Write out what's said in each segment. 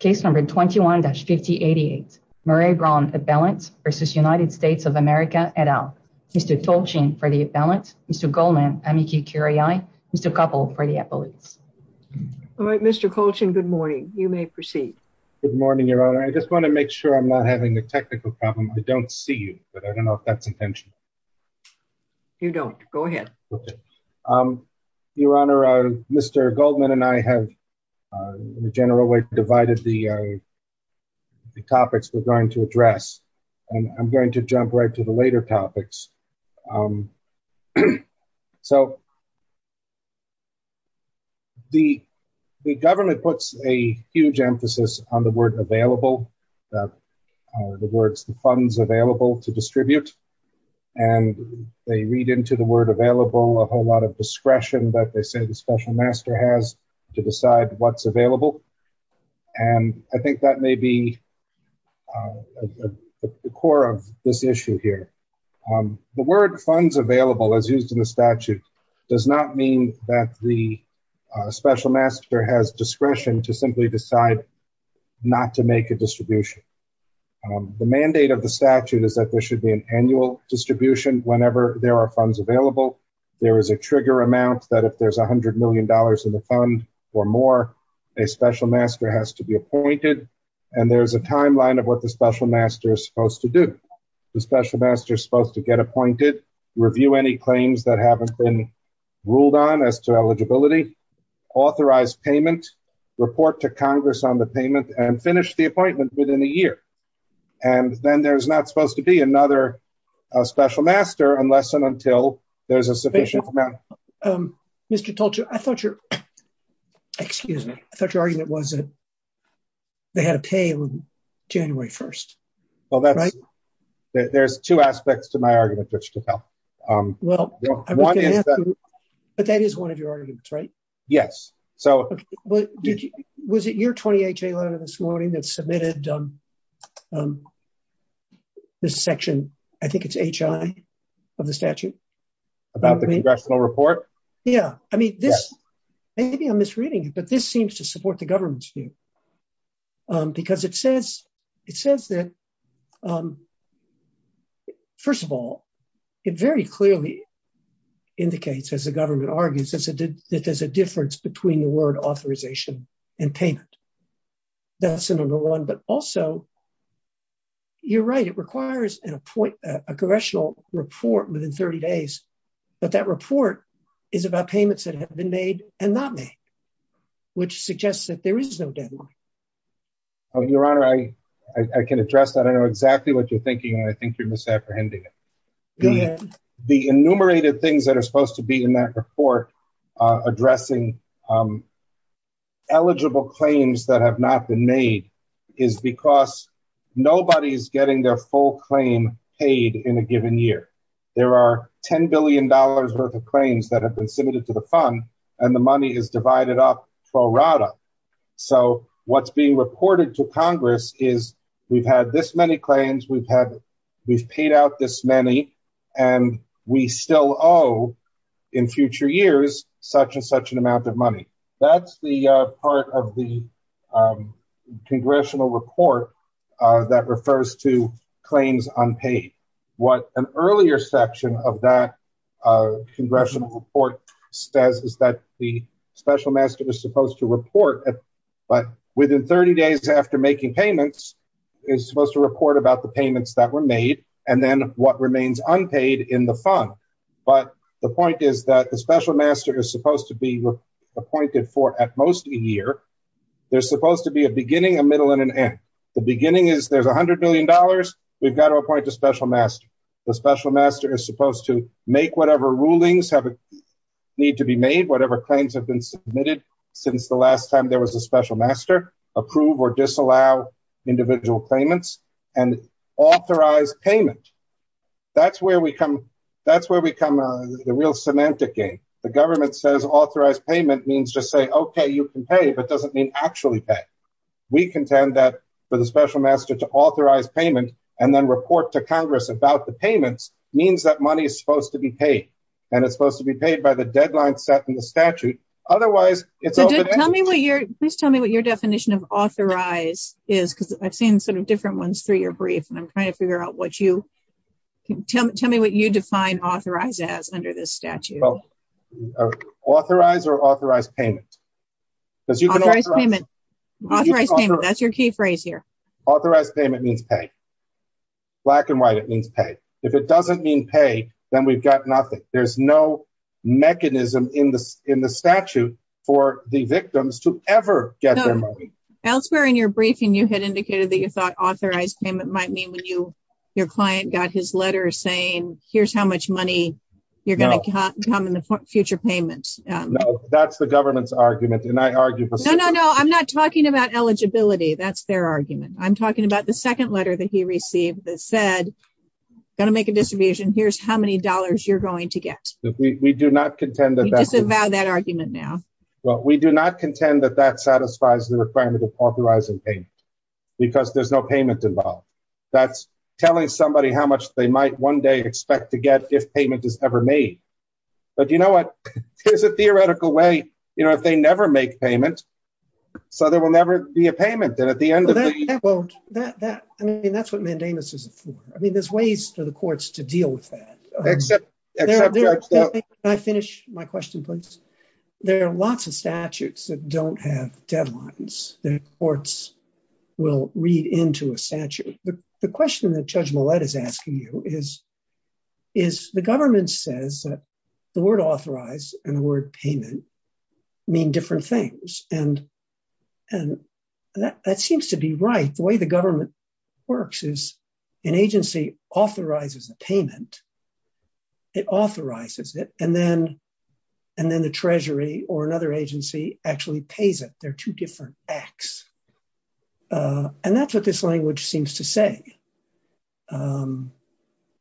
v. United States of America et al. Mr. Colchin for the balance, Mr. Goldman, Mr. Koppel for the appellate. All right, Mr. Colchin, good morning. You may proceed. Good morning, Your Honor. I just want to make sure I'm not having a technical problem. I don't see you, but I don't know if that's intentional. You don't. Go ahead. Okay. Your Honor, Mr. Goldman and I have in a general way divided the topics we're going to address, and I'm going to jump right to the later topics. So the government puts a huge emphasis on the word available, the words the funds available to distribute, and they read into the word available a whole lot of discretion that they and I think that may be the core of this issue here. The word funds available, as used in the statute, does not mean that the special master has discretion to simply decide not to make a distribution. The mandate of the statute is that there should be an annual distribution whenever there are funds available. There is a trigger amount that if there's a hundred million dollars in the fund or more, a special master has to be appointed, and there's a timeline of what the special master is supposed to do. The special master is supposed to get appointed, review any claims that haven't been ruled on as to eligibility, authorize payment, report to Congress on the payment, and finish the appointment within a year. And then there's not supposed to be another special master unless and until there's a sufficient amount. Mr. Tolture, I thought your, excuse me, I thought your argument was that they had to pay on January 1st. Well, that's right. There's two aspects to my argument, which to tell. Well, but that is one of your arguments, right? Yes. So, well, did you, was it your 28th day letter this morning that submitted this section? I think it's HI of the statute. About the congressional report? Yeah. I mean, this, maybe I'm misreading it, but this seems to support the government's view. Because it says, it says that, first of all, it very clearly indicates, as the government argues, that there's a difference between the word authorization and payment. That's the number one. But also, you're right. It requires a congressional report within 30 days. But that report is about payments that have been made and not made, which suggests that there is no deadline. Your Honor, I can address that. I know exactly what you're thinking, and I think you're misapprehending it. The enumerated things that are supposed to be in that report, addressing eligible claims that have not been made, is because nobody's getting their full claim paid in a given year. There are $10 billion worth of claims that have been submitted to the fund, and the money is divided up pro rata. So what's being reported to Congress is, we've had this many claims, we've paid out this many, and we still owe, in future years, such and such an amount of money. That's the part of the congressional report that refers to claims unpaid. What an earlier section of that congressional report says is that the special master is supposed to report, but within 30 days after making payments, is supposed to report about the payments that were made, and then what remains unpaid in the fund. But the point is that the special master is supposed to be appointed for at most a year. There's supposed to be a beginning, a middle, and an end. The beginning is, there's $100 million. We've got to appoint a special master. The special master is supposed to make whatever rulings need to be made, whatever claims have been submitted since the last time there was a special master, approve or disallow individual claimants, and authorize payment. That's where we come, that's where we come, the real semantic game. The government says authorized payment means just say, okay, you can pay, but doesn't mean actually pay. We contend that for the special master to authorize payment and then report to pay, and it's supposed to be paid by the deadline set in the statute. Otherwise, it's- So tell me what your, please tell me what your definition of authorize is, because I've seen sort of different ones through your brief, and I'm trying to figure out what you, tell me what you define authorize as under this statute. Authorize or authorize payment. Because you can authorize payment. Authorize payment, that's your key phrase here. Authorize payment means pay. Black and white, it means pay. If it doesn't mean pay, we've got nothing. There's no mechanism in the statute for the victims to ever get their money. Elsewhere in your briefing, you had indicated that you thought authorized payment might mean when your client got his letter saying, here's how much money you're going to come in the future payments. That's the government's argument, and I argue for- No, no, no. I'm not talking about eligibility. That's their argument. I'm talking about the dollars you're going to get. We do not contend that- We disavow that argument now. Well, we do not contend that that satisfies the requirement of authorizing payment, because there's no payment involved. That's telling somebody how much they might one day expect to get if payment is ever made. But you know what? Here's a theoretical way, you know, if they never make payment, so there will never be a payment. And at the end of the- Well, that, I mean, that's what mandamus is for. I mean, there's ways for the courts to deal with that. Can I finish my question, please? There are lots of statutes that don't have deadlines that courts will read into a statute. The question that Judge Millett is asking you is, the government says that the word authorized and the word payment mean different things. And and that seems to be right. The way the government works is an agency authorizes a payment, it authorizes it, and then the treasury or another agency actually pays it. They're two different acts. And that's what this language seems to say.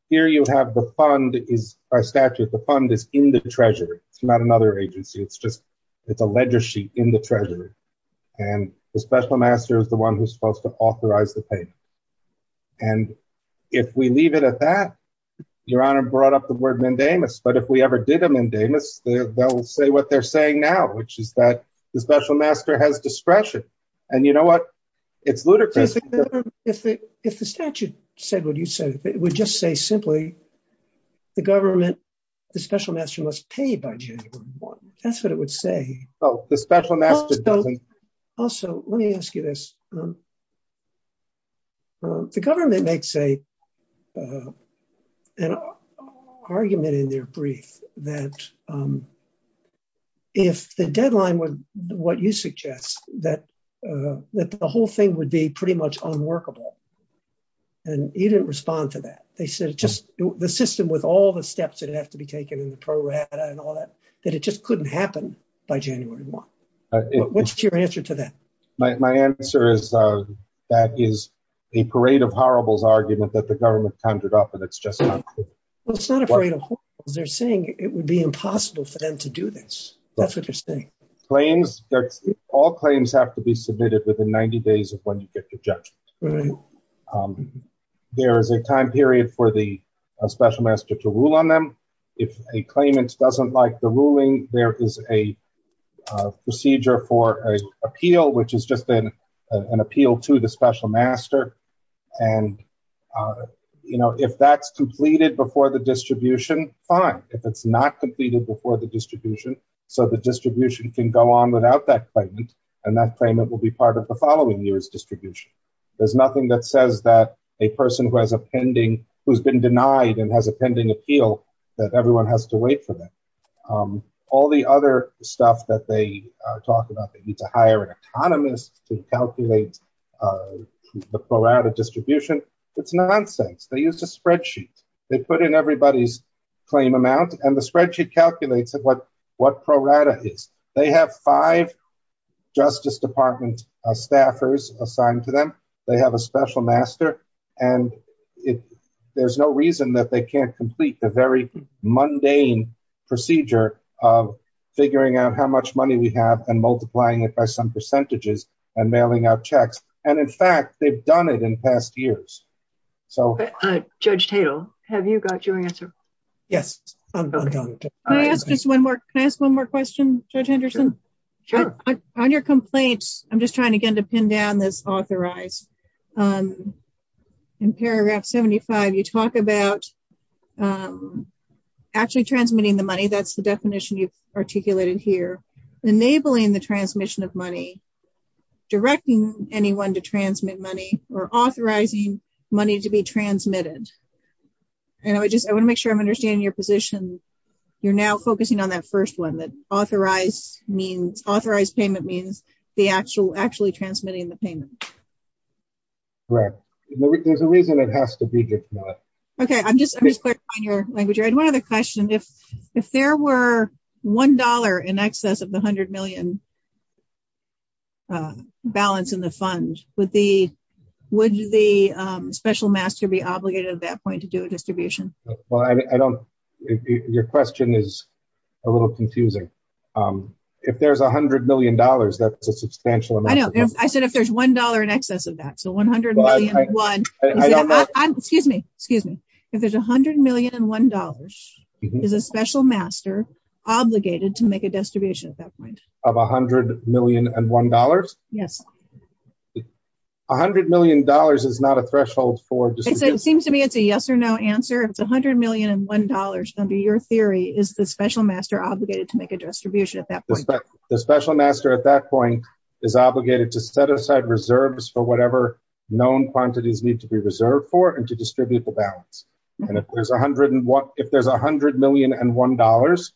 Here you have the fund is, our statute, the fund is in the treasury. It's not another agency. It's a ledger sheet in the treasury. And the special master is the one who's supposed to authorize the payment. And if we leave it at that, Your Honor brought up the word mandamus. But if we ever did a mandamus, they'll say what they're saying now, which is that the special master has discretion. And you know what? It's ludicrous. If the statute said what you said, it would just say simply, the government, the special master must pay by January 1. That's what it would say. Also, let me ask you this. The government makes an argument in their brief that if the deadline was what you suggest, that the whole thing would be pretty much unworkable. And you didn't respond to that. They said just the system with all the steps that have to be taken in the program and all that, that it just couldn't happen by January 1. What's your answer to that? My answer is, that is a parade of horribles argument that the government conjured up. And it's just not clear. Well, it's not a parade of horribles. They're saying it would be impossible for them to do this. That's what they're saying. Claims, all claims have to be approved. There is a time period for the special master to rule on them. If a claimant doesn't like the ruling, there is a procedure for an appeal, which is just an appeal to the special master. And if that's completed before the distribution, fine. If it's not completed before the distribution, so the distribution can go on without that claimant, and that claimant will be part of the following year's distribution. There's nothing that says that a person who has a pending, who's been denied and has a pending appeal, that everyone has to wait for them. All the other stuff that they talk about, they need to hire an economist to calculate the pro rata distribution. It's nonsense. They used a spreadsheet. They put in everybody's claim amount and the spreadsheet calculates what pro rata is. They have five justice department staffers assigned to them. They have a special master and there's no reason that they can't complete the very mundane procedure of figuring out how much money we have and multiplying it by some percentages and mailing out checks. And in fact, they've done it in past years. Judge Tatel, have you got your answer? Yes. Can I ask just one more question, Judge Henderson? Sure. On your complaint, I'm just trying again to pin down this authorize. In paragraph 75, you talk about actually transmitting the money. That's the definition you've articulated here. Enabling the transmission of money, directing anyone to transmit money, or authorizing money to be transmitted. I want to make sure I'm understanding your position. You're now focusing on that first one. Authorized payment means actually transmitting the payment. Correct. There's a reason it has to be. Okay. I'm just clarifying your language. I had one other question. If there were $1 in excess of the $100 million balance in the fund, would the special master be obligated at that point to do a distribution? Well, your question is a little confusing. If there's $100 million, that's a substantial amount. I know. I said if there's $1 in excess of that, so $100 million and one. Excuse me. If there's $100 million and $1, is a special master obligated to make a distribution at that point? Of $100 million and $1? Yes. $100 million is not a threshold for distribution. It's a yes or no answer. If it's $100 million and $1 under your theory, is the special master obligated to make a distribution at that point? The special master at that point is obligated to set aside reserves for whatever known quantities need to be reserved for and to distribute the balance. If there's $100 million and $1,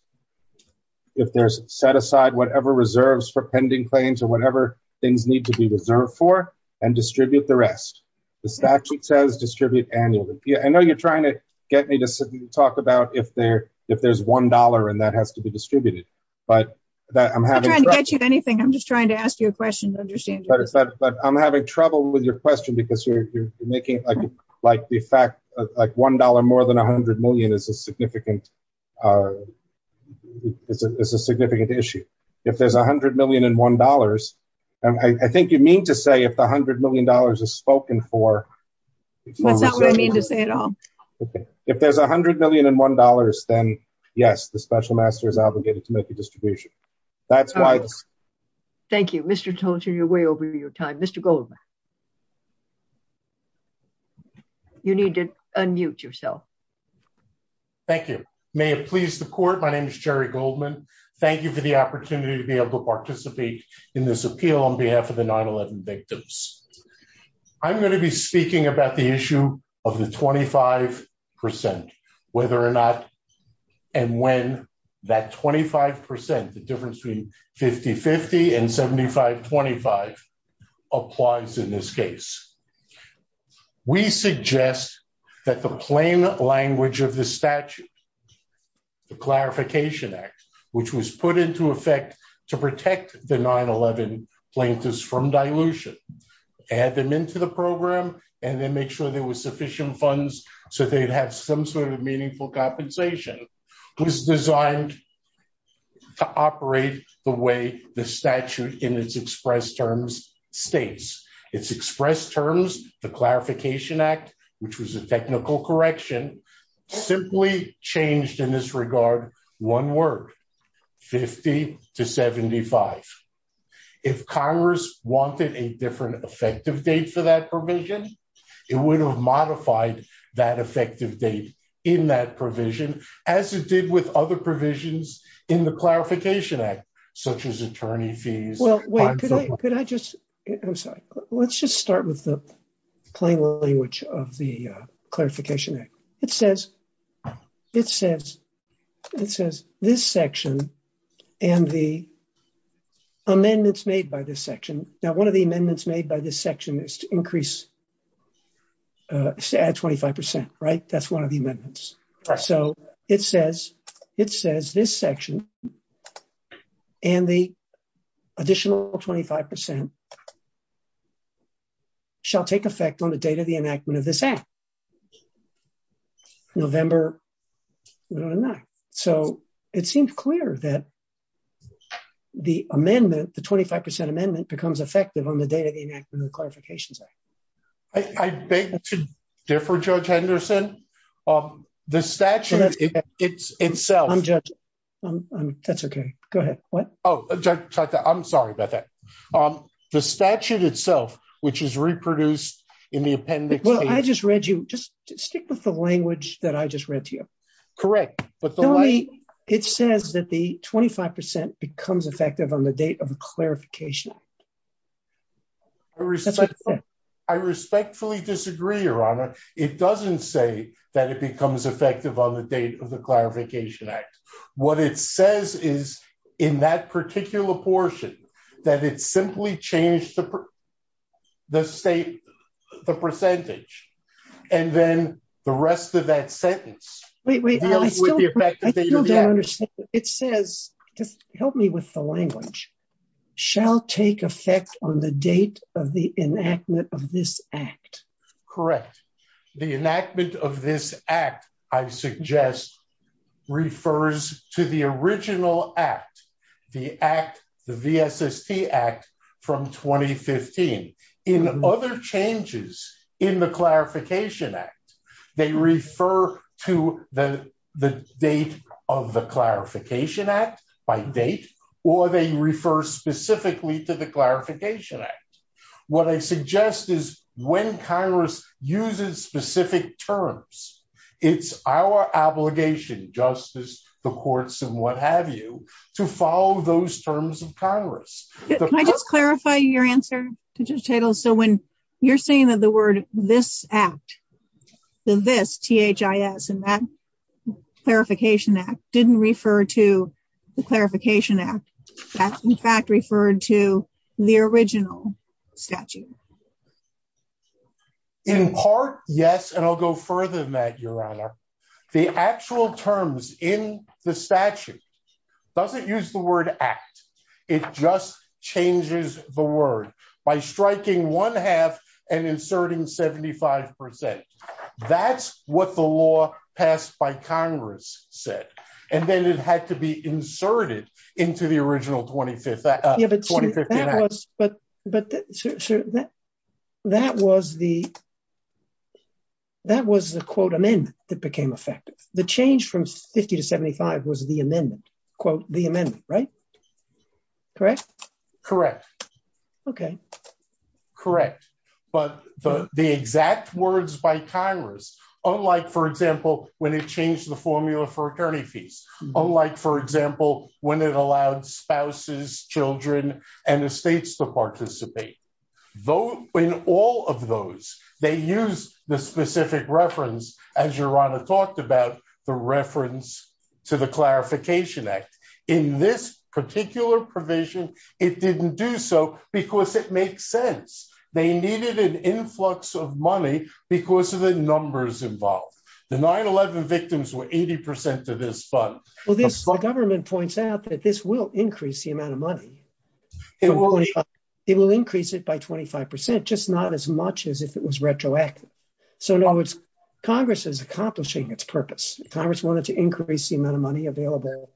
if there's set aside whatever reserves for pending claims or whatever things need to be reserved for and distribute the rest. The statute says distribute annually. I know you're trying to get me to talk about if there's $1 and that has to be distributed. I'm not trying to get you anything. I'm just trying to ask you a question to understand. I'm having trouble with your question because you're making the fact like $1 more than $100 million is a significant issue. If there's $100 million and $1, I think you mean to say if the $100 million is spoken for. That's not what I mean to say at all. Okay. If there's $100 million and $1, then yes, the special master is obligated to make a distribution. Thank you. Mr. Tolton, you're way over your time. Mr. Goldman. You need to unmute yourself. Thank you. May it please the court. My name is Jerry Goldman. Thank you for the opportunity to be able to participate in this appeal on behalf of the 9-11 victims. I'm going to be speaking about the issue of the 25% whether or not and when that 25%, the difference between 50-50 and 75-25 applies in this case. We suggest that the plain language of the statute, the Clarification Act, which was put into effect to protect the 9-11 plaintiffs from dilution, add them into the program, and then make sure there was sufficient funds so they'd have some sort of meaningful compensation, was designed to operate the way the statute in its express terms states. Its express terms, the Clarification Act, which was a technical correction, simply changed in this regard one word, 50-75. If Congress wanted a different effective date for that provision, it would have modified that effective date in that provision as it did with other provisions in the Clarification Act, such as attorney fees. Let's just start with the plain language of the Clarification Act. It says this section and the amendments made by this section. Now, add 25%, right? That's one of the amendments. It says this section and the additional 25% shall take effect on the date of the enactment of this act, November 1999. It seems clear that the amendment, the 25% amendment becomes effective on the date of the enactment of the Clarification Act. I beg to differ, Judge Henderson. The statute itself... I'm sorry about that. The statute itself, which is reproduced in the appendix... Well, I just read you. Just stick with the language that I just read to you. Correct. It says that the 25% becomes effective on the date of the Clarification Act. That's what it said. I respectfully disagree, Your Honor. It doesn't say that it becomes effective on the date of the Clarification Act. What it says is, in that particular portion, that it simply changed the percentage, and then the rest of that sentence... Wait, wait. I still don't understand. It says, just help me with the language, shall take effect on the date of the enactment of this act. Correct. The enactment of this act, I suggest, refers to the original act, the V.S.S.T. Act from 2015. In other changes in the Clarification Act, they refer to the date of the Clarification Act by date, or they refer specifically to the Clarification Act. What I suggest is, when Congress uses specific terms, it's our obligation, justice, the courts, and what have you, to follow those terms of Congress. Can I just clarify your answer, Judge Tittle? When you're saying that the word this act, the this, T-H-I-S, in that Clarification Act, didn't refer to the Clarification Act. That, in fact, referred to the original statute. In part, yes, and I'll go further than that, Your Honor. The actual terms in the statute doesn't use the word act. It just changes the word by striking one half and inserting 75%. That's what the law passed by Congress said, and then it had to be inserted into the original 2015 act. But that was the, that was the, quote, amendment that became effective. The change from 50 to 75 was the amendment, quote, the amendment, right? Correct? Correct. Okay. Correct. But the exact words by Congress, unlike, for example, when it changed the formula for attorney fees. Unlike, for example, when it allowed spouses, children, and estates to participate. In all of those, they used the specific reference, as Your Honor talked about, the reference to the Clarification Act. In this particular provision, it didn't do so because it makes sense. They needed an influx of money because of the numbers involved. The 9-11 victims were 80% of this fund. Well, this, the government points out that this will increase the amount of money. It will increase it by 25%, just not as much as if it was retroactive. So, in other words, Congress is accomplishing its purpose. Congress wanted to increase the amount of money available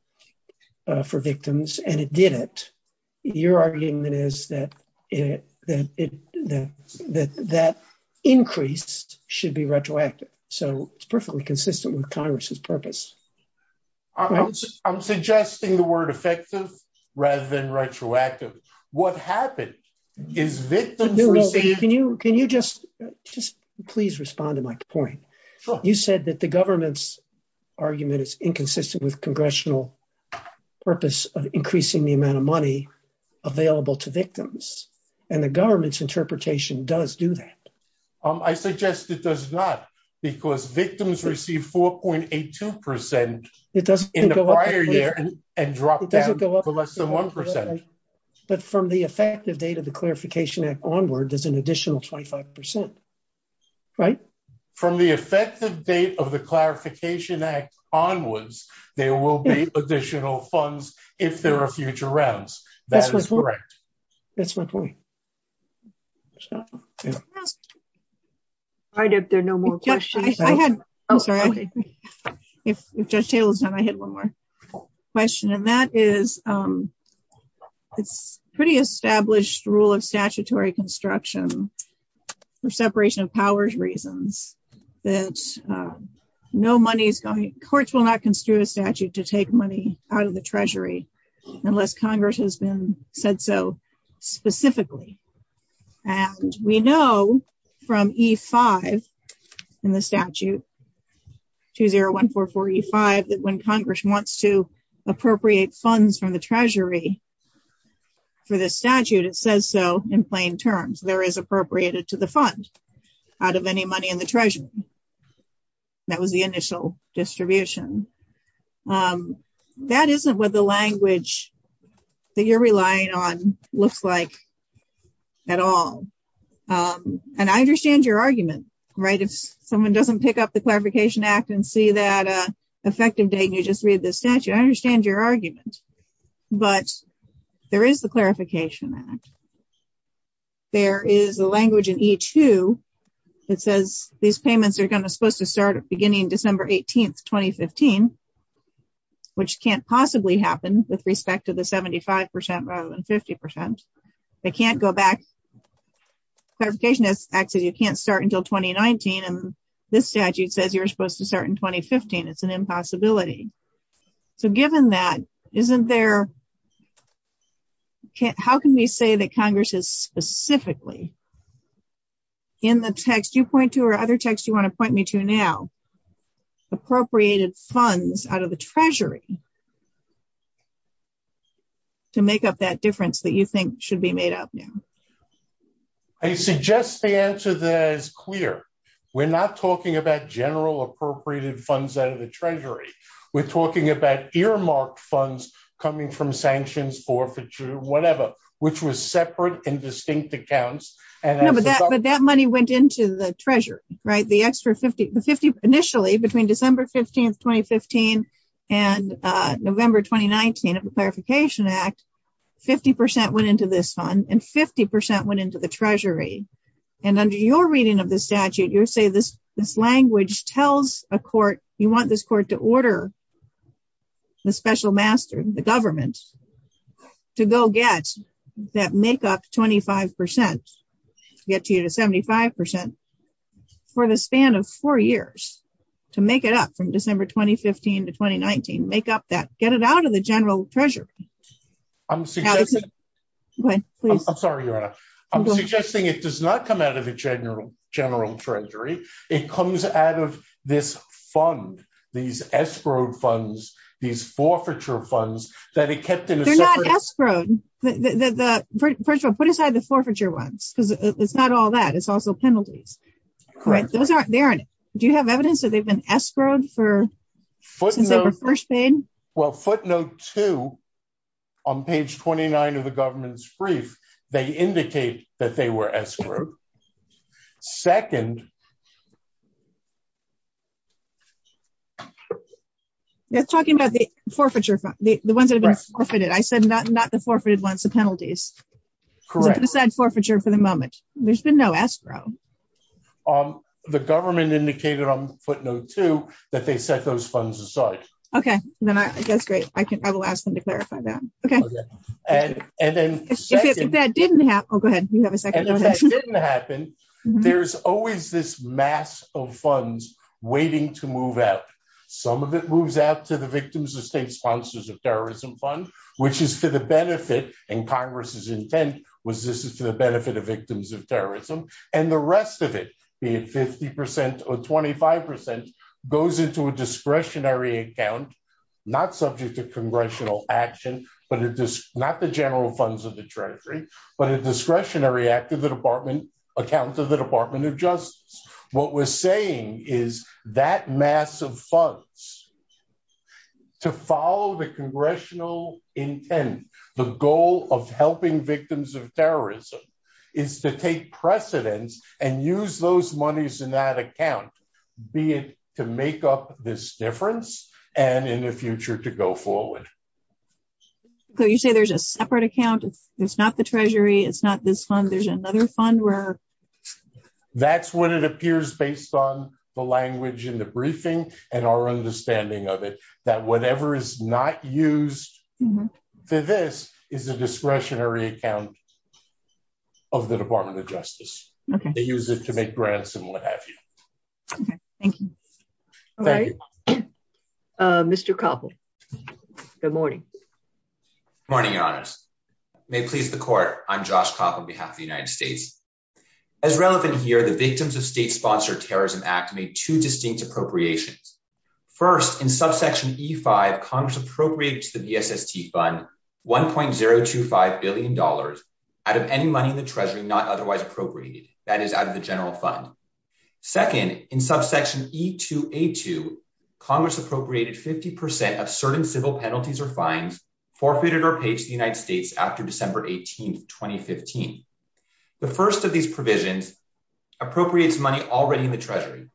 for victims, and it did it. Your argument is that that increased should be retroactive. So, it's perfectly consistent with Congress's purpose. I'm suggesting the word effective rather than retroactive. What happened? Is victims received? Can you just, just please respond to my point. Sure. You said that the government's argument is inconsistent with Congressional purpose of increasing the amount of money available to victims, and the government's interpretation does do that. I suggest it does not because victims received 4.82% in the prior year and dropped down to less than 1%. But from the effective date of the Clarification Act onward, there's an additional 25%, right? From the effective date of the Clarification Act, there will be additional funds if there are future rounds. That is correct. That's my point. All right, if there are no more questions. If Judge Taylor's done, I had one more question, and that is, it's a pretty established rule of statutory construction for separation of powers reasons that courts will not construe a statute to take money out of the Treasury unless Congress has been said so specifically. And we know from E-5 in the statute, 2014 E-5, that when Congress wants to appropriate funds from the Treasury for this statute, it says so in plain terms. There is appropriated to the fund out of any money in the Treasury. That was the initial distribution. That isn't what the language that you're relying on looks like at all. And I understand your argument, right? If someone doesn't pick up the Clarification Act and see that effective date and you just read the statute, I understand your argument. But there is the Clarification Act. There is a language in E-2 that says these payments are going to supposed to start at beginning December 18, 2015, which can't possibly happen with respect to the 75% rather than 50%. They can't go back. Clarification Act says you can't start until 2019, and this statute says you're supposed to start in 2015. It's an impossibility. So given that, how can we say that Congress has specifically in the text you point to or other texts you want to point me to now, appropriated funds out of the Treasury to make up that difference that you think should be made up now? I suggest the answer that is clear. We're not talking about general appropriated funds out of the Treasury. We're talking about earmarked funds coming from sanctions, forfeiture, whatever, which was separate and distinct accounts. No, but that money went into the Treasury, right? Initially, between December 15, 2015 and November 2019 of the Clarification Act, 50% went into this fund and 50% went into the Treasury. And under your reading of the statute, you say this language tells a court, you want this court to order the special master, the government to go get that make up 25%, get you to 75% for the span of four years to make it up from December 2015 to 2019, make up that, get it out of the general Treasury. I'm sorry, I'm suggesting it does not come out of the general Treasury. It comes out of this fund, these escrowed funds, these forfeiture funds that it kept in a separate- They're not escrowed. First of all, put aside the forfeiture ones because it's not all that, it's also penalties. Those aren't there. Do you have evidence that they've been escrowed since they were first paid? Well, footnote two on page 29 of the government's brief, they indicate that they were escrowed. Second- They're talking about the forfeiture, the ones that have been forfeited. I said not the forfeited ones, the penalties. Correct. So put aside forfeiture for the moment. There's been no escrow. The government indicated on footnote two that they set those funds aside. Okay. That's great. I will ask them to clarify that. Okay. And then- If that didn't happen- Oh, go ahead. You have a second. If that didn't happen, there's always this mass of funds waiting to move out. Some of it moves out to the Victims of State Sponsors of Terrorism Fund, which is for the benefit, and Congress's intent was this is for the benefit of victims of terrorism, and the rest of it, be it 50% or 25%, goes into a discretionary account, not subject to congressional action, not the general funds of the treasury, but a discretionary act of the Department of Justice. What we're saying is that mass of funds to follow the congressional intent, the goal of helping victims of terrorism, is to take precedence and use those monies in that account, be it to make up this difference and in the future to go forward. So you say there's a separate account. It's not the treasury. It's not this fund. There's another fund where- That's what it appears based on the language in the briefing and our understanding of it, that whatever is not used for this is a discretionary account of the Department of Justice. They use it to make grants and what have you. Okay. Thank you. All right. Mr. Koppel, good morning. Good morning, Your Honors. May it please the Court, I'm Josh Koppel on behalf of the United States. As relevant here, the Victims of State-Sponsored Terrorism Act made two distinct appropriations. First, in subsection E-5, Congress appropriated to the BSST Fund $1.025 billion out of any money in the treasury not otherwise appropriated, that is out of the general fund. Second, in subsection E-2A-2, Congress appropriated 50% of certain civil penalties or fines forfeited or paid to the United States after December 18th, 2015. The first of these provisions appropriates money already in the treasury.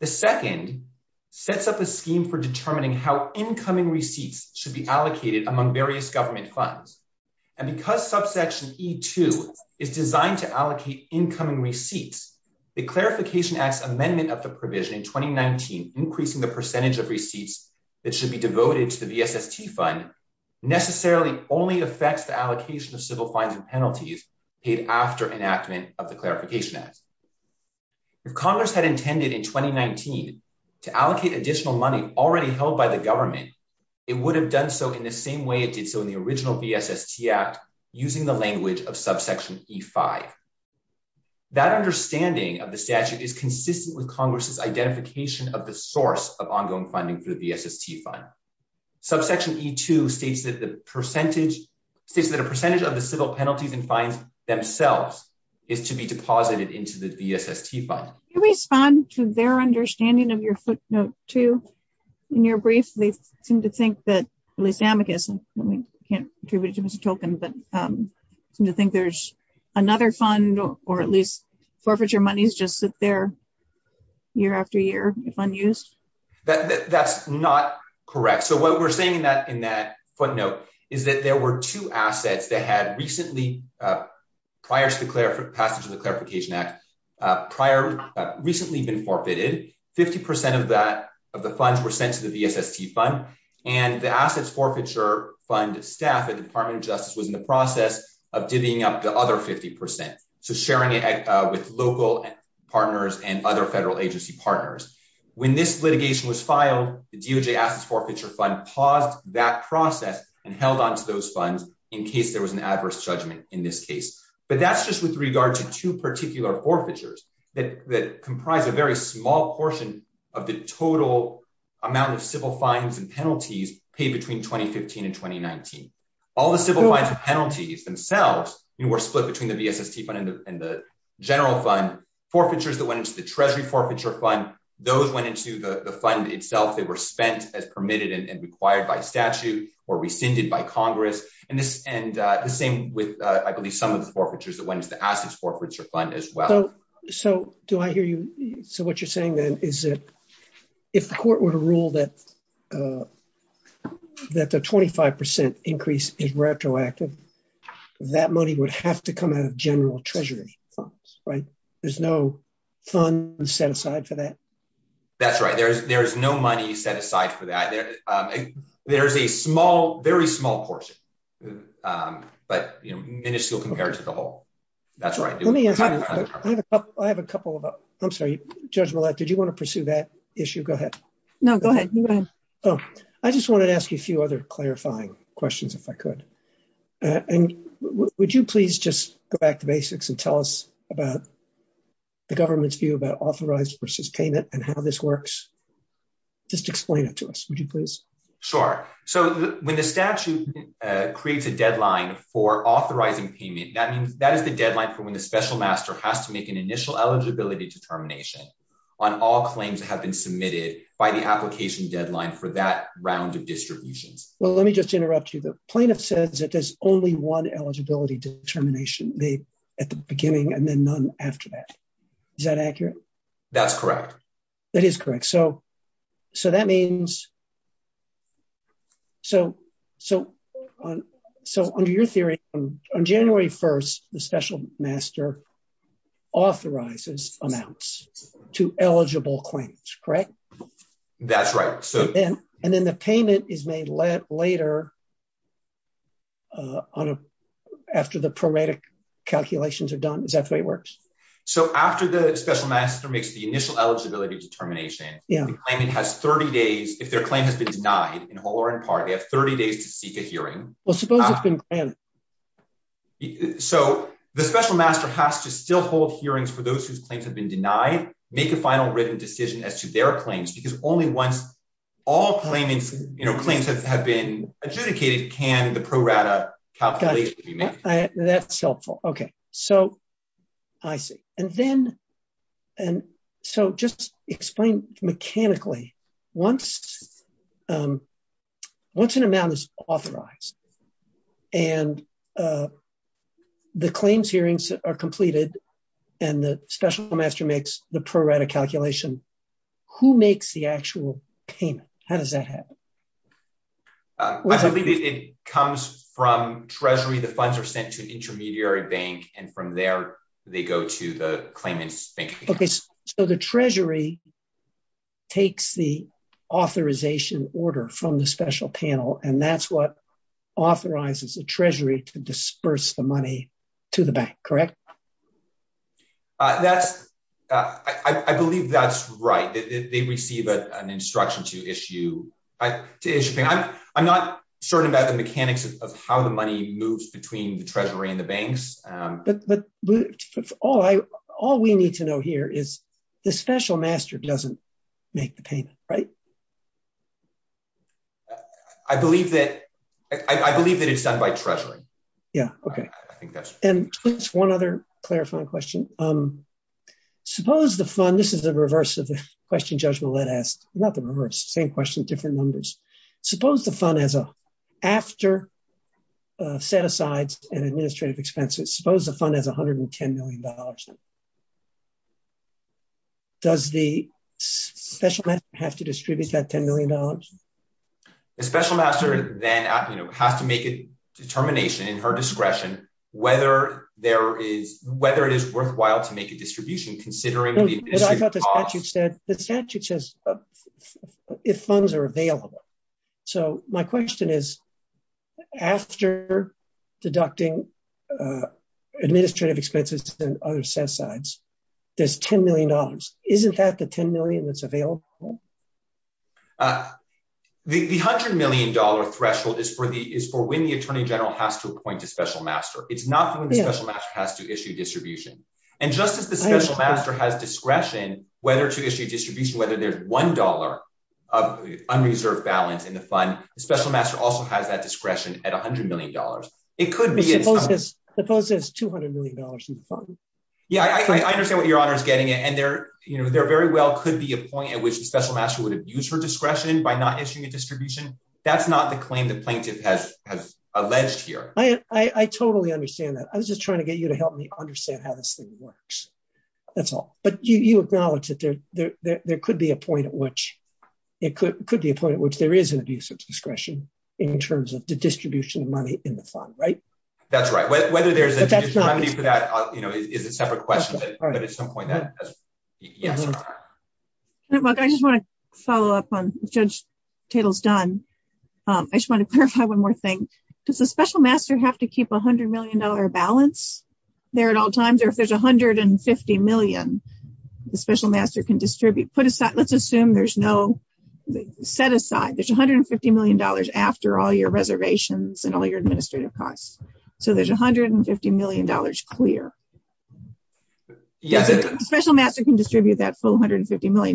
The second sets up a scheme for determining how incoming receipts should be allocated among various government funds. And because subsection E-2 is designed to allocate incoming receipts, the Clarification Act's amendment of the provision in 2019, increasing the percentage of receipts that should be devoted to the BSST Fund, necessarily only affects the allocation of civil fines and penalties paid after enactment of the Clarification Act. If Congress had intended in 2019 to allocate additional money already held by the government, it would have done so in the same way it did so in the original BSST Act, using the language of the source of ongoing funding for the BSST Fund. Subsection E-2 states that a percentage of the civil penalties and fines themselves is to be deposited into the BSST Fund. Can you respond to their understanding of your footnote, too, in your brief? They seem to think that, at least amicus, and we can't attribute it to Mr. Tolkien, but seem to think there's another fund or at least forfeiture monies just sit there year after year if unused. That's not correct. So what we're saying in that footnote is that there were two assets that had recently, prior to the passage of the Clarification Act, recently been forfeited. 50% of the funds were sent to the BSST Fund, and the Assets Forfeiture Fund staff at the Department of Justice was in the process of divvying up the other 50%, so sharing it with local partners and other federal agency partners. When this litigation was filed, the DOJ Assets Forfeiture Fund paused that process and held on to those funds in case there was an adverse judgment in this case. But that's just with regard to two particular forfeitures that comprise a very small portion of the total amount of civil penalties themselves, and were split between the BSST Fund and the General Fund. Forfeitures that went into the Treasury Forfeiture Fund, those went into the fund itself. They were spent as permitted and required by statute or rescinded by Congress. And the same with, I believe, some of the forfeitures that went into the Assets Forfeiture Fund as well. So do I hear you? So what you're saying then is that if the court were to rule that the 25% increase is retroactive, that money would have to come out of general treasury funds, right? There's no funds set aside for that? That's right. There's no money set aside for that. There's a small, very small portion, but, you know, miniscule compared to the whole. That's right. Let me pursue that issue. Go ahead. No, go ahead. I just wanted to ask you a few other clarifying questions, if I could. And would you please just go back to basics and tell us about the government's view about authorized versus payment and how this works? Just explain it to us, would you please? Sure. So when the statute creates a deadline for authorizing payment, that means that is the deadline for when the special master has to make an initial eligibility determination on all claims that have been submitted by the application deadline for that round of distributions. Well, let me just interrupt you. The plaintiff says that there's only one eligibility determination made at the beginning and then none after that. Is that accurate? That's correct. That is correct. So that means... So under your theory, on January 1st, the special master authorizes amounts to eligible claims, correct? That's right. And then the payment is made later after the prorated calculations are done. Is that the way it works? So after the special master makes the initial eligibility determination, the claimant has 30 days, if their claim has been denied in whole or in part, they have 30 days to seek a hearing. Well, the special master has to still hold hearings for those whose claims have been denied, make a final written decision as to their claims because only once all claims have been adjudicated can the prorated calculation be made. That's helpful. Okay. So I see. And then... Mechanically, once an amount is authorized and the claims hearings are completed and the special master makes the prorated calculation, who makes the actual payment? How does that happen? It comes from treasury. The funds are sent to an intermediary bank and from there, they go to the claimant's bank. Okay. So the treasury takes the authorization order from the special panel and that's what authorizes the treasury to disperse the money to the bank, correct? I believe that's right. They receive an instruction to issue. I'm not certain about mechanics of how the money moves between the treasury and the banks. All we need to know here is the special master doesn't make the payment, right? I believe that it's done by treasury. Yeah. Okay. And just one other clarifying question. Suppose the fund, this is the reverse of the question Judge Millett asked, not the reverse, same question, different numbers. Suppose the fund, after set-asides and administrative expenses, suppose the fund has $110 million. Does the special master have to distribute that $10 million? The special master then has to make a determination in her discretion whether it is if funds are available. So my question is, after deducting administrative expenses and other set-asides, there's $10 million. Isn't that the $10 million that's available? The $100 million threshold is for when the attorney general has to appoint a special master. It's not when the special master has to issue distribution. And just as the special master has discretion whether to issue distribution, whether there's $1 of unreserved balance in the fund, the special master also has that discretion at $100 million. It could be- Suppose there's $200 million in the fund. Yeah, I understand what your honor is getting at. And there very well could be a point at which the special master would have used her discretion by not issuing a distribution. That's not the claim the plaintiff has alleged here. I totally understand that. I was just trying to get you to help me understand how this thing works. That's all. But you acknowledge that there could be a point at which there is an abuse of discretion in terms of the distribution of money in the fund, right? That's right. Whether there's a distribution for that is a separate question. But at some point, that is. Yes. I just want to follow up on Judge Tatel's done. I just want to clarify one more thing. Does the special master have to keep $100 million balance there at all times? Or if there's $100 million, the special master can distribute- Let's assume there's no set aside. There's $150 million after all your reservations and all your administrative costs. So there's $150 million clear. Yes. The special master can distribute that full $150 million.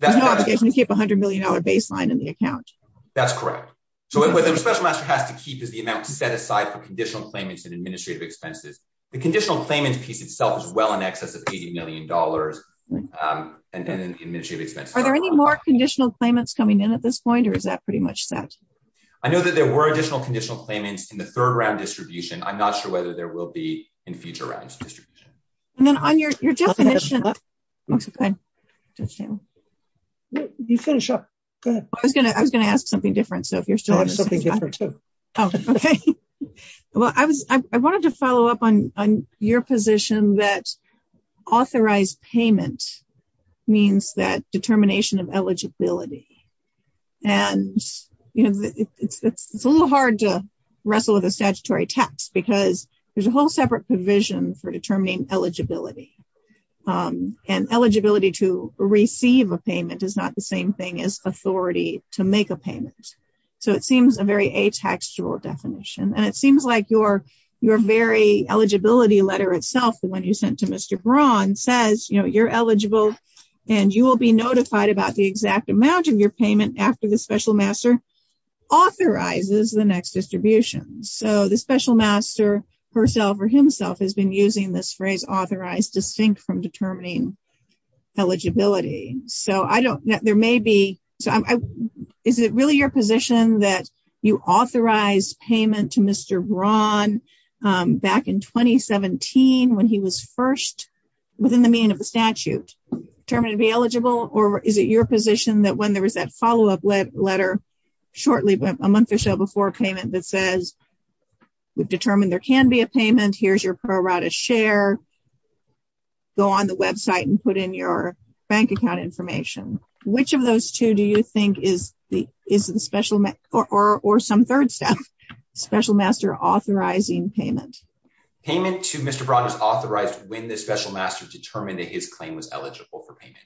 There's no obligation to keep $100 million baseline in the account. That's correct. So what the special master has to keep is the amount set aside for conditional claimants and administrative expenses. The claimant piece itself is well in excess of $80 million in administrative expenses. Are there any more conditional claimants coming in at this point, or is that pretty much set? I know that there were additional conditional claimants in the third round distribution. I'm not sure whether there will be in future rounds of distribution. And then on your definition- You finish up. Go ahead. I was going to ask something different. So if you're still- Oh, okay. Well, I wanted to follow up on your position that authorized payment means that determination of eligibility. And it's a little hard to wrestle with a statutory tax because there's a whole separate provision for determining eligibility. And eligibility to receive a payment is not the same thing as authority to make a payment. So it seems a very ataxial definition. And it seems like your very eligibility letter itself, the one you sent to Mr. Braun says, you're eligible and you will be notified about the exact amount of your payment after the special master authorizes the next distribution. So the special master herself or himself has been using this phrase authorized distinct from determining eligibility. So is it really your position that you authorized payment to Mr. Braun back in 2017 when he was first, within the meaning of the statute, determined to be eligible? Or is it your position that when there was that follow-up letter shortly, a month or so before payment that says, we've determined there can be a payment, here's your pro rata share, go on the website and put in your bank account information. Which of those two do you think is the special, or some third step, special master authorizing payment? Payment to Mr. Braun is authorized when the special master determined that his claim was eligible for payment.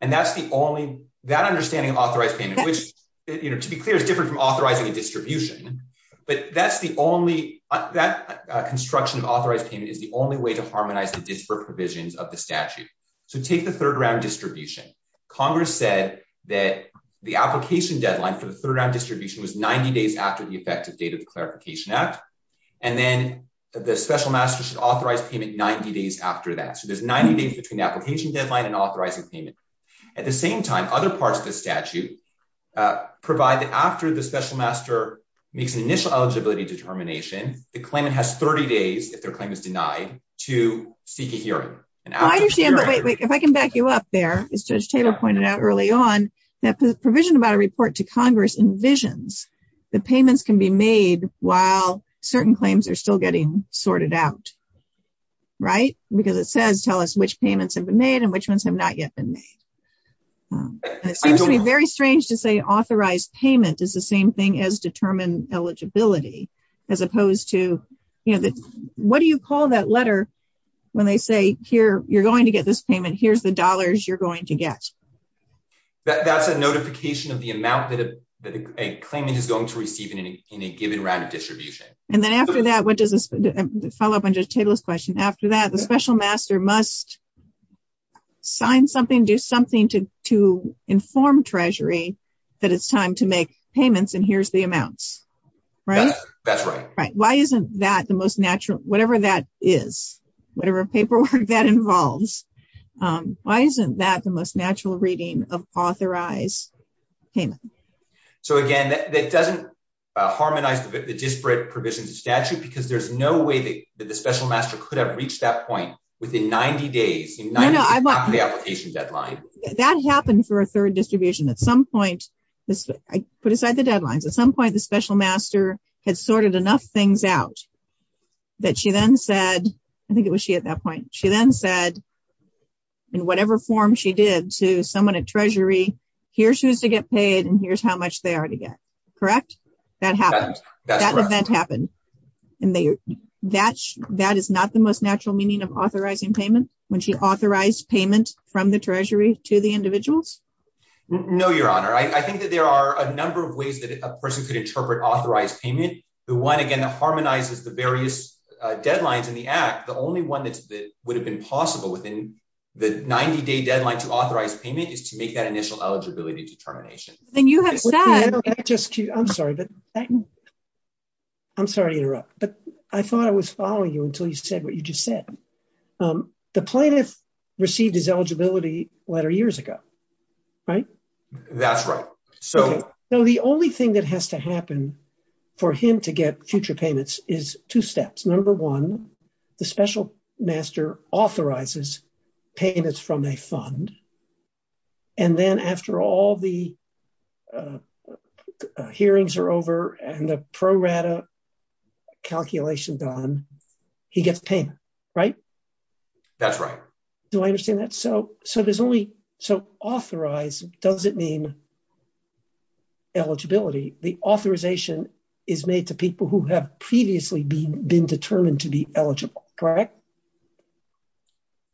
And that's the only, that understanding of authorized payment, which to be clear is different from authorizing a distribution, but that's the only, that construction of authorized payment is the only way to harmonize the disparate provisions of the statute. So take the third round distribution. Congress said that the application deadline for the third round distribution was 90 days after the effective date of the Clarification Act. And then the special master should authorize payment 90 days after that. So there's 90 days between the application deadline and authorizing payment. At the same time, other parts of the statute provide that after the special master makes an initial eligibility determination, the claimant has 30 days, if their claim is denied, to seek a hearing. I understand, but wait, if I can back you up there, as Judge Taylor pointed out early on, that the provision about a report to Congress envisions the payments can be made while certain claims are still getting sorted out, right? Because it says, tell us which payments have been made and which ones have not yet been made. It seems to be very strange to say authorized payment is the same thing as determined eligibility, as opposed to, you know, what do you call that letter when they say, here, you're going to get this payment, here's the dollars you're going to get. That's a notification of the amount that a claimant is going to receive in a given round of distribution. And then after that, what does this, follow up on Judge Taylor's question, after that, the special master must sign something, do something to inform Treasury that it's time to make payments and here's the amounts, right? That's right. Right. Why isn't that the most natural, whatever that is, whatever paperwork that involves, why isn't that the most natural reading of authorized payment? So again, that doesn't harmonize the disparate provisions of statute because there's no way that the special master could have reached that point within 90 days, 90 days after the application deadline. That happened for a third distribution. At some point, I put aside the deadlines. At some point, the special master had sorted enough things out that she then said, I think it was she at that point, she then said in whatever form she did to someone at Treasury, here's who's to get paid and here's how much they are to get. Correct? That happened. That event happened. And that is not the most natural meaning of authorizing payment when she authorized payment from the Treasury to the individuals? No, Your Honor. I think that there are a number of ways that a person could interpret authorized payment. The one, again, that harmonizes the various deadlines in the act, the only one that would have been possible within the 90-day deadline to authorize payment is to initial eligibility determination. I'm sorry to interrupt, but I thought I was following you until you said what you just said. The plaintiff received his eligibility letter years ago, right? That's right. So the only thing that has to happen for him to get future payments is two steps. Number one, the special master authorizes payments from a fund. And then after all the hearings are over and the pro rata calculation done, he gets payment, right? That's right. Do I understand that? So authorized, does it mean eligibility? The authorization is made to people who have previously been determined to be eligible, correct?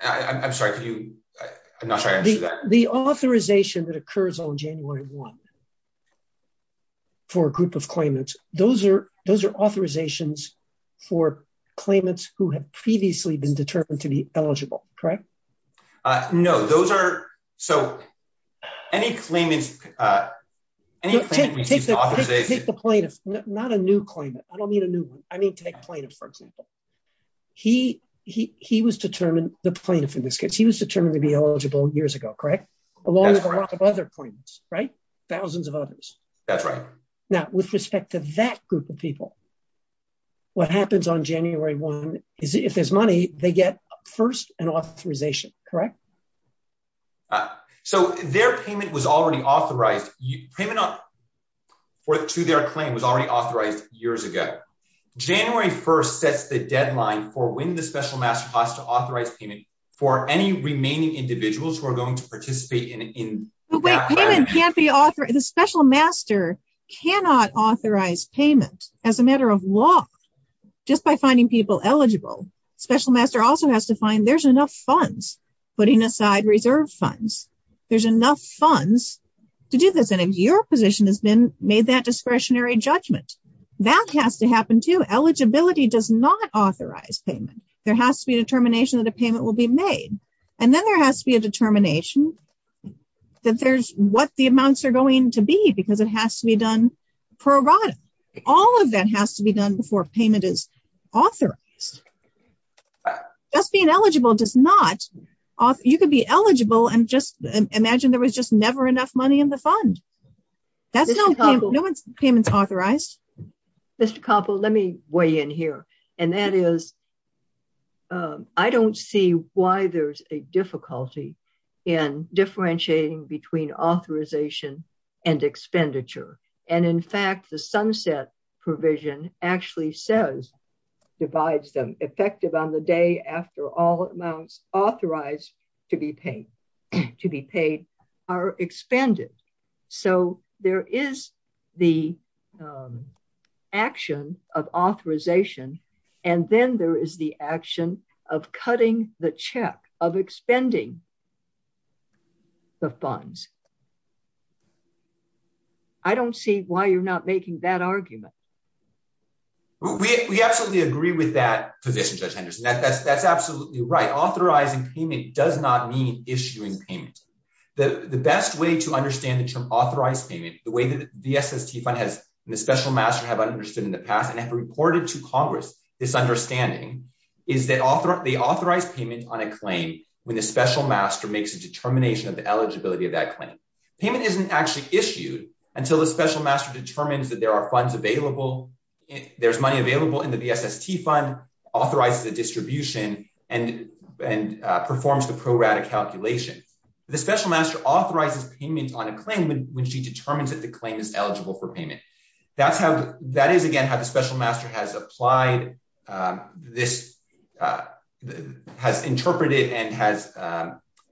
I'm sorry, I'm not sure I answered that. The authorization that occurs on January 1 for a group of claimants, those are authorizations for claimants who have been determined to be eligible. So any claimant receives authorization- Take the plaintiff, not a new claimant. I don't mean a new one. I mean, take plaintiff, for example. He was determined, the plaintiff in this case, he was determined to be eligible years ago, correct? Along with a lot of other claimants, right? Thousands of others. That's right. Now, with respect to that group of people, what happens on January 1 is if there's money, they get first an authorization, correct? So their payment was already authorized. Payment to their claim was already authorized years ago. January 1 sets the deadline for when the special master has to authorize payment for any remaining individuals who are going to participate in- But wait, payment can't be authorized. The special master cannot authorize payment as a matter of law just by finding people eligible. Special master also has to find there's enough funds, putting aside reserve funds, there's enough funds to do this. And if your position has been made that discretionary judgment, that has to happen too. Eligibility does not authorize payment. There has to be a determination that a payment will be made. And then there has to be a determination that there's what the amounts are going to be because it has to be done pro rata. All of that has to be done before payment is authorized. Just being eligible does not you could be eligible and just imagine there was just never enough money in the fund. That's no, no one's payments authorized. Mr. Koppel, let me weigh in here. And that is, I don't see why there's a difficulty in differentiating between authorization and expenditure. And in fact, the sunset provision actually says, divides them effective on the day after all amounts authorized to be paid to be paid are expended. So there is the action of authorization. And then there is the action of cutting the check of expending the funds. I don't see why you're not making that argument. We absolutely agree with that position, Judge Henderson. That's absolutely right. Authorizing payment does not mean issuing payment. The best way to understand the term authorized payment, the way that the SST fund has in the special master have understood in the past and have reported to Congress, this understanding is that the authorized payment on a claim, when the special master makes a determination of the eligibility of that claim, payment isn't actually issued until the special master determines that there are funds available. There's money available in the SST fund, authorizes the distribution and performs the pro rata calculation. The special master authorizes payment on a claim when she determines that the claim is eligible for payment. That's how, that is again, how the special master has applied. This has interpreted and has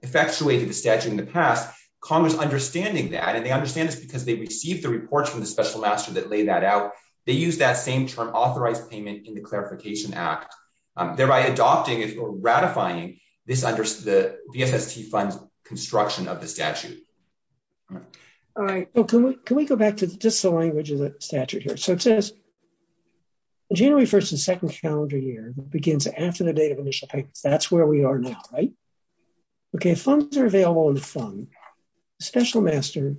effectuated the statute in the past. Congress understanding that and they understand this because they received the reports from the special master that lay that out. They use that same term authorized payment in the clarification act, thereby adopting or ratifying this under the SST fund's construction of the statute. All right. Can we go back to just the language of the statute here? So it says January 1st and second calendar year begins after the date of initial payments. That's we are now, right? Okay. Funds are available in the fund. Special master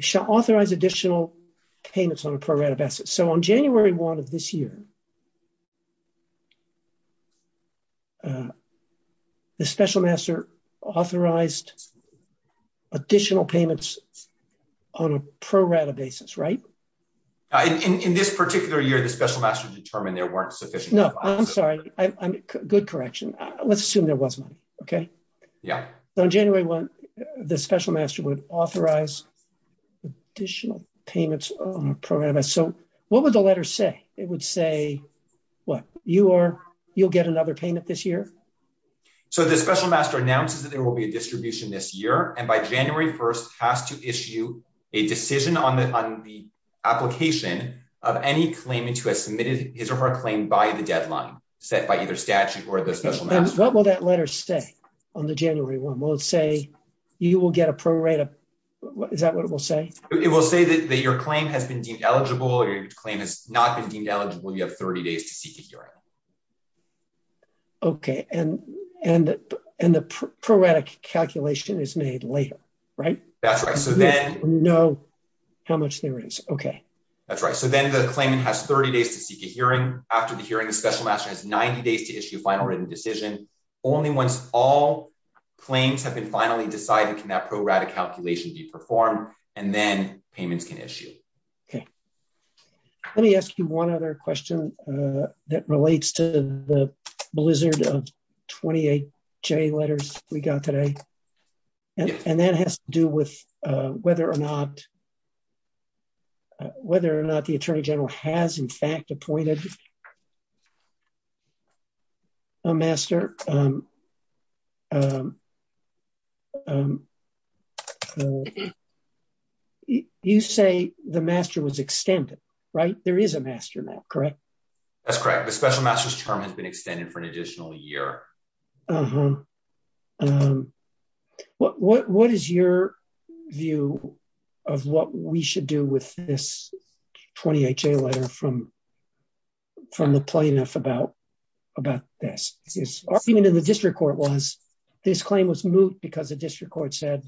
shall authorize additional payments on a pro rata basis. So on January 1st of this year, the special master authorized additional payments on a pro rata basis, right? In this particular year, the special master determined there weren't sufficient. I'm sorry. Good correction. Let's assume there was money. Okay. Yeah. On January 1, the special master would authorize additional payments on a program. So what would the letter say? It would say what you are, you'll get another payment this year. So the special master announces that there will be a distribution this year. And by January 1st has to issue a decision on the application of any claimant who has submitted his or her claim by the deadline set by either statute or the special master. What will that letter say on the January 1? Will it say you will get a pro rata? Is that what it will say? It will say that your claim has been deemed eligible or your claim has not been deemed eligible. You have 30 days to seek a hearing. Okay. And the pro rata calculation is made later, right? That's right. So then much there is. Okay. That's right. So then the claimant has 30 days to seek a hearing after the hearing, the special master has 90 days to issue final written decision. Only once all claims have been finally decided, can that pro rata calculation be performed and then payments can issue. Okay. Let me ask you one other question that relates to the blizzard of 28 J letters we got today. And that has to do with whether or not the attorney general has in fact appointed a master. You say the master was extended, right? There is a master now, correct? That's correct. The special master's term has been extended for an additional year. What is your view of what we should do with this 28 J letter from the plaintiff about this argument in the district court was this claim was moot because the district court said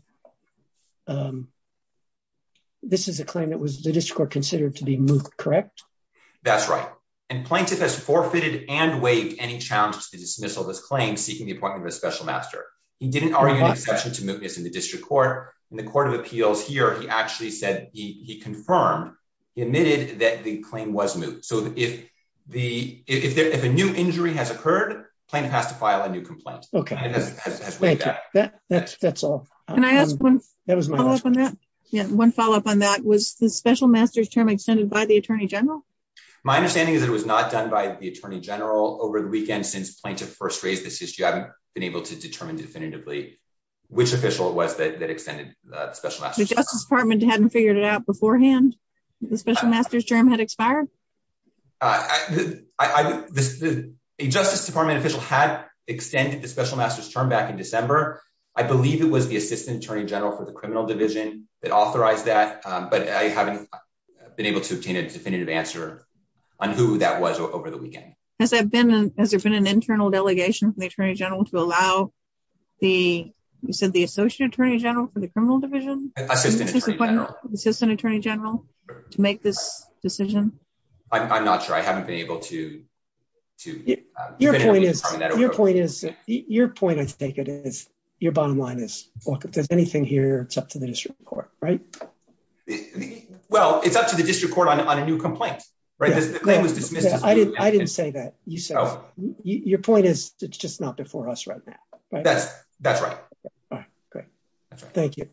this is a claim that was the district court considered to be moot, correct? That's right. And plaintiff has forfeited and waived any challenges to dismissal this claim seeking the appointment of a special master. He didn't argue an exception to mootness in the district court and the court of appeals here, he actually said he confirmed, he admitted that the claim was moot. So if a new injury has occurred, plaintiff has to file a new complaint. Okay. That's all. Can I ask one follow-up on that? Yeah. One follow-up on that was the special master's term extended by the attorney general? My understanding is that it was not done by the attorney general over the weekend since plaintiff first raised this issue. I haven't been able to determine definitively which official it was that extended the special master's term. The justice department hadn't figured it out beforehand? The special master's term had expired? A justice department official had extended the special master's term back in December. I believe it was the assistant attorney general for the criminal division that authorized that, but I haven't been able to obtain a definitive answer on who that was over the weekend. Has there been an internal delegation from the attorney general to allow the, you said the associate attorney general for the criminal division? Assistant attorney general. Assistant attorney general to make this decision? I'm not sure. I haven't been able to. Your point is, your point I take it is, your bottom line is, look, if there's anything here it's up to the district court, right? Well, it's up to the district court on a new complaint, right? I didn't say that. Your point is it's just not before us right now, right? That's right. Great. Thank you.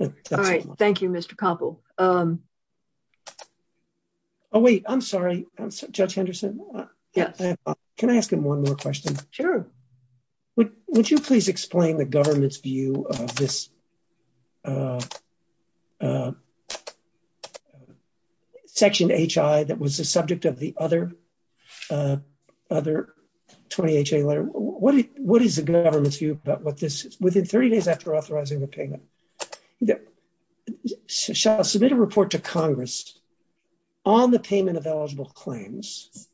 All right. Thank you, Mr. Coppel. Oh, wait, I'm sorry. Judge Henderson, can I ask him one more question? Sure. Would you please explain the government's view of this section H.I. that was the subject of the other 20 H.A. letter? What is the government's view about what this is? Within 30 days after authorizing the payment, shall I submit a report to Congress on the payment of eligible claims,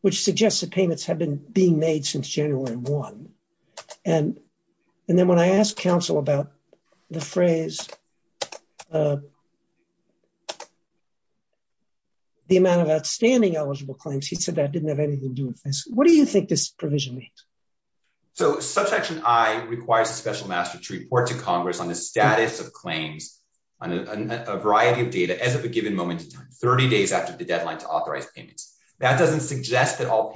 which suggests that payments have been made since January 1? And then when I asked counsel about the phrase, the amount of outstanding eligible claims, he said that didn't have anything to do with this. What do you think this provision means? So, subsection I requires a special master to report to Congress on the status of claims on a variety of data as of a given moment in time, 30 days after the deadline to authorize payments. That doesn't suggest that all have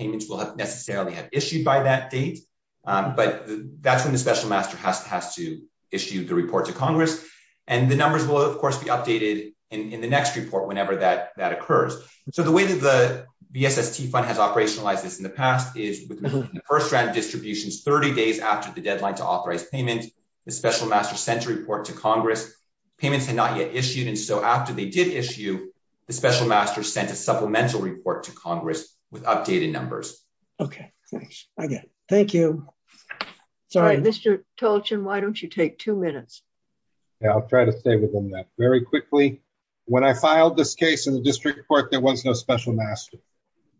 been issued by that date, but that's when the special master has to issue the report to Congress. And the numbers will, of course, be updated in the next report whenever that occurs. So, the way that the V.S.S.T. fund has operationalized this in the past is the first round of distributions, 30 days after the deadline to authorize payment, the special master sent a report to Congress. Payments had not yet issued. And so, after they did issue, the special master sent a supplemental report to Congress with updated numbers. Okay. Thanks again. Thank you. Sorry. Mr. Tolchin, why don't you take two minutes? Yeah, I'll try to stay within that. Very quickly, when I filed this case in the district court, there was no special master.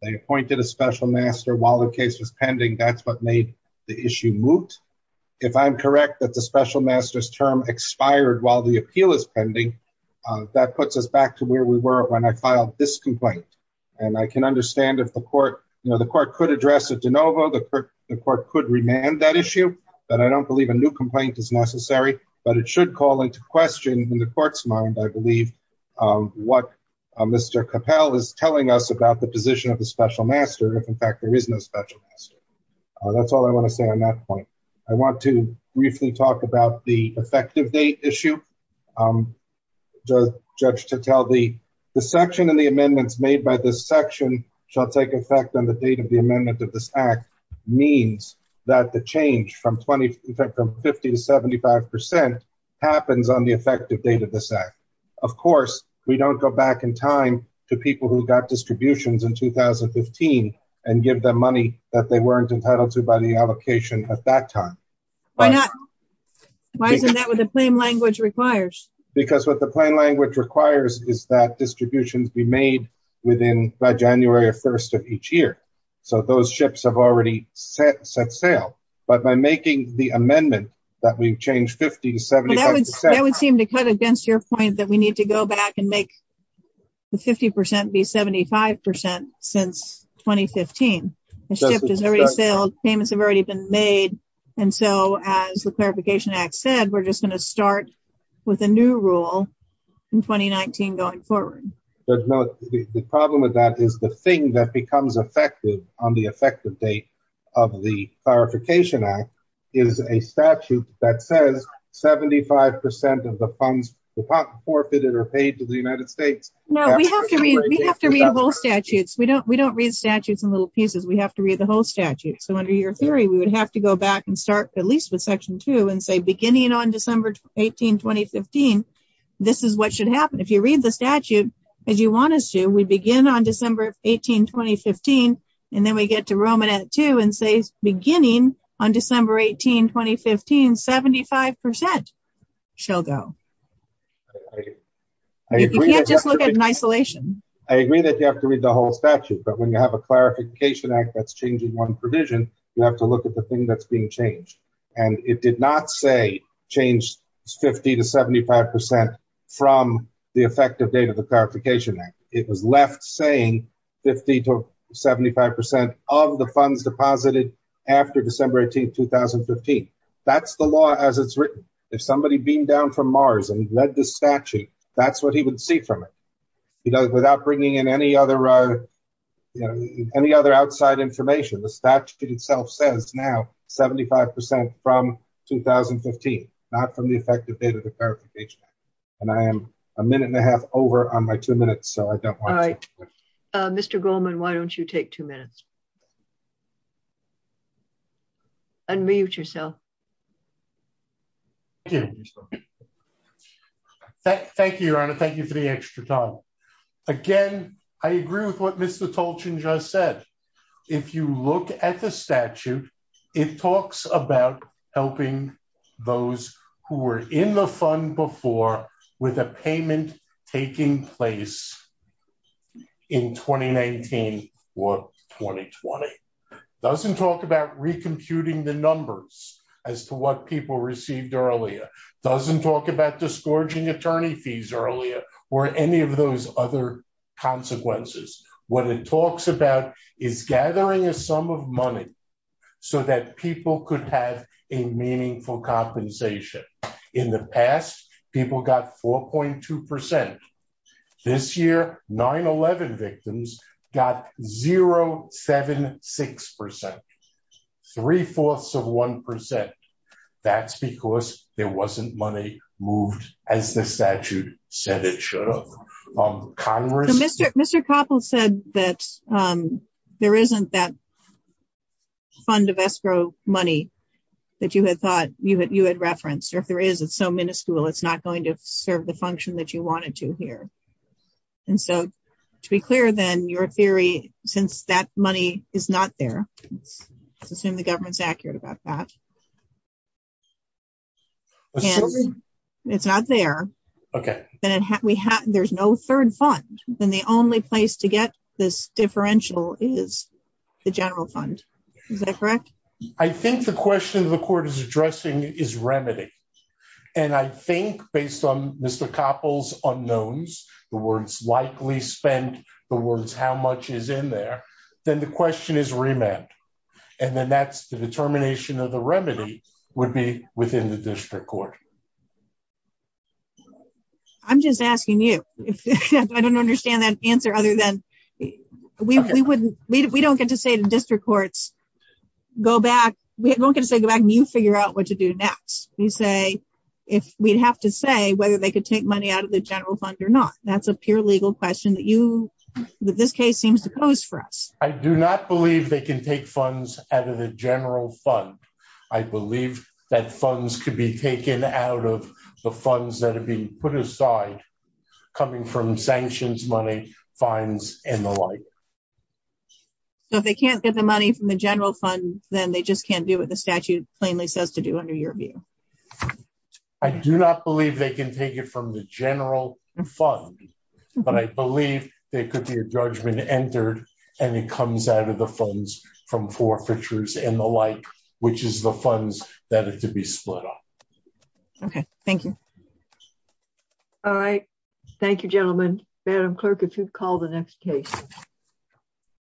They appointed a special master while the case was pending. That's what made the issue moot. If I'm correct that the special master's term expired while the appeal is pending, that puts us back to where we were when I filed this complaint. And I can understand if the court could address it de novo, the court could remand that issue, but I don't believe a new complaint is necessary. But it should call into question in the court's mind, I believe, what Mr. Capel is telling us about the position of the special master if, in fact, there is no special master. That's all I want to say on that point. I want to briefly talk about the effective date issue. The judge to tell the section and the amendments made by this section shall take effect on the date of the amendment of this act means that the change from 50 to 75 percent happens on the effective date of this act. Of course, we don't go back in time to people who got distributions in 2015 and give them money that they weren't entitled to by the allocation at that time. Why not? Why isn't that what the plain language requires? Because what the plain language requires is that distributions be made within by January 1st of each year. So those ships have already set sail. But by making the amendment that we've changed 50 to 75 percent. That would seem to cut against your point that we need to go back and make the 50 percent be 75 percent since 2015. The ship has already sailed. Payments have already been made. And so as the Clarification Act said, we're just going to start with a new rule in 2019 going forward. The problem with that is the thing that becomes effective on the effective date of the Clarification Act is a statute that says 75 percent of the funds forfeited are paid to the United States. No, we have to read whole statutes. We don't read statutes in little pieces. We have to read the whole statute. So under your theory, we would have to go back and start at least with Section 2 and say beginning on December 18, 2015, this is what should happen. If you read the statute as you want us to, we begin on December 18, 2015, and then we get to Romanette 2 and say beginning on December 18, 2015, 75 percent shall go. You can't just look at it in isolation. I agree that you have to read the whole statute, but when you have a Clarification Act that's changing one provision, you have to look at the thing that's being changed. And it did not say change 50 to 75 percent from the effective date of the Clarification Act. It was left saying 50 to 75 percent of the funds deposited after December 18, 2015. That's the law as it's written. If somebody beamed down from Mars and read the statute, that's what he would see from it. Without bringing in any other outside information, the statute itself says now 75 percent from 2015, not from the effective date of the Clarification Act. And I am a minute and a half. Mr. Goldman, why don't you take two minutes? Unmute yourself. Thank you, Your Honor. Thank you for the extra time. Again, I agree with what Mr. Tolchin just said. If you look at the statute, it talks about helping those who were in the fund before with a payment taking place in 2019 or 2020. It doesn't talk about recomputing the numbers as to what people received earlier. It doesn't talk about discouraging attorney fees earlier or any of those other consequences. What it talks about is gathering a sum of money so that people could have a meaningful compensation. In the past, people got 4.2 percent. This year, 9-11 victims got 0.76 percent, three-fourths of one percent. That's because there wasn't money moved as the statute said it should have. Mr. Koppel said that there isn't that fund of escrow money that you had thought you had referenced. Or if there is, it's so minuscule, it's not going to serve the function that you wanted to here. And so, to be clear then, your theory, since that money is not there, let's assume the government's accurate about that. It's not there. Okay. Then there's no third fund. Then the only place to get this differential is the general fund. Is that correct? I think the question the court is addressing is remedy. And I think based on Mr. Koppel's unknowns, the words likely spent, the words how much is in there, then the question is remand. And then that's the determination of the remedy would be within the district court. I'm just asking you. I don't understand that answer other than we don't get to say to district courts, we don't get to say go back and you figure out what to do next. You say, if we'd have to say whether they could take money out of the general fund or not, that's a pure legal question that this case seems to pose for us. I do not believe they can take funds out of the general fund. I believe that funds could be taken out of the funds that fines and the like. So if they can't get the money from the general fund, then they just can't do what the statute plainly says to do under your view. I do not believe they can take it from the general fund, but I believe there could be a judgment entered and it comes out of the funds from forfeitures and the like, which is the funds that are to be split off. Okay. Thank you. All right. Thank you, gentlemen. Madam Clerk, if you'd call the next case.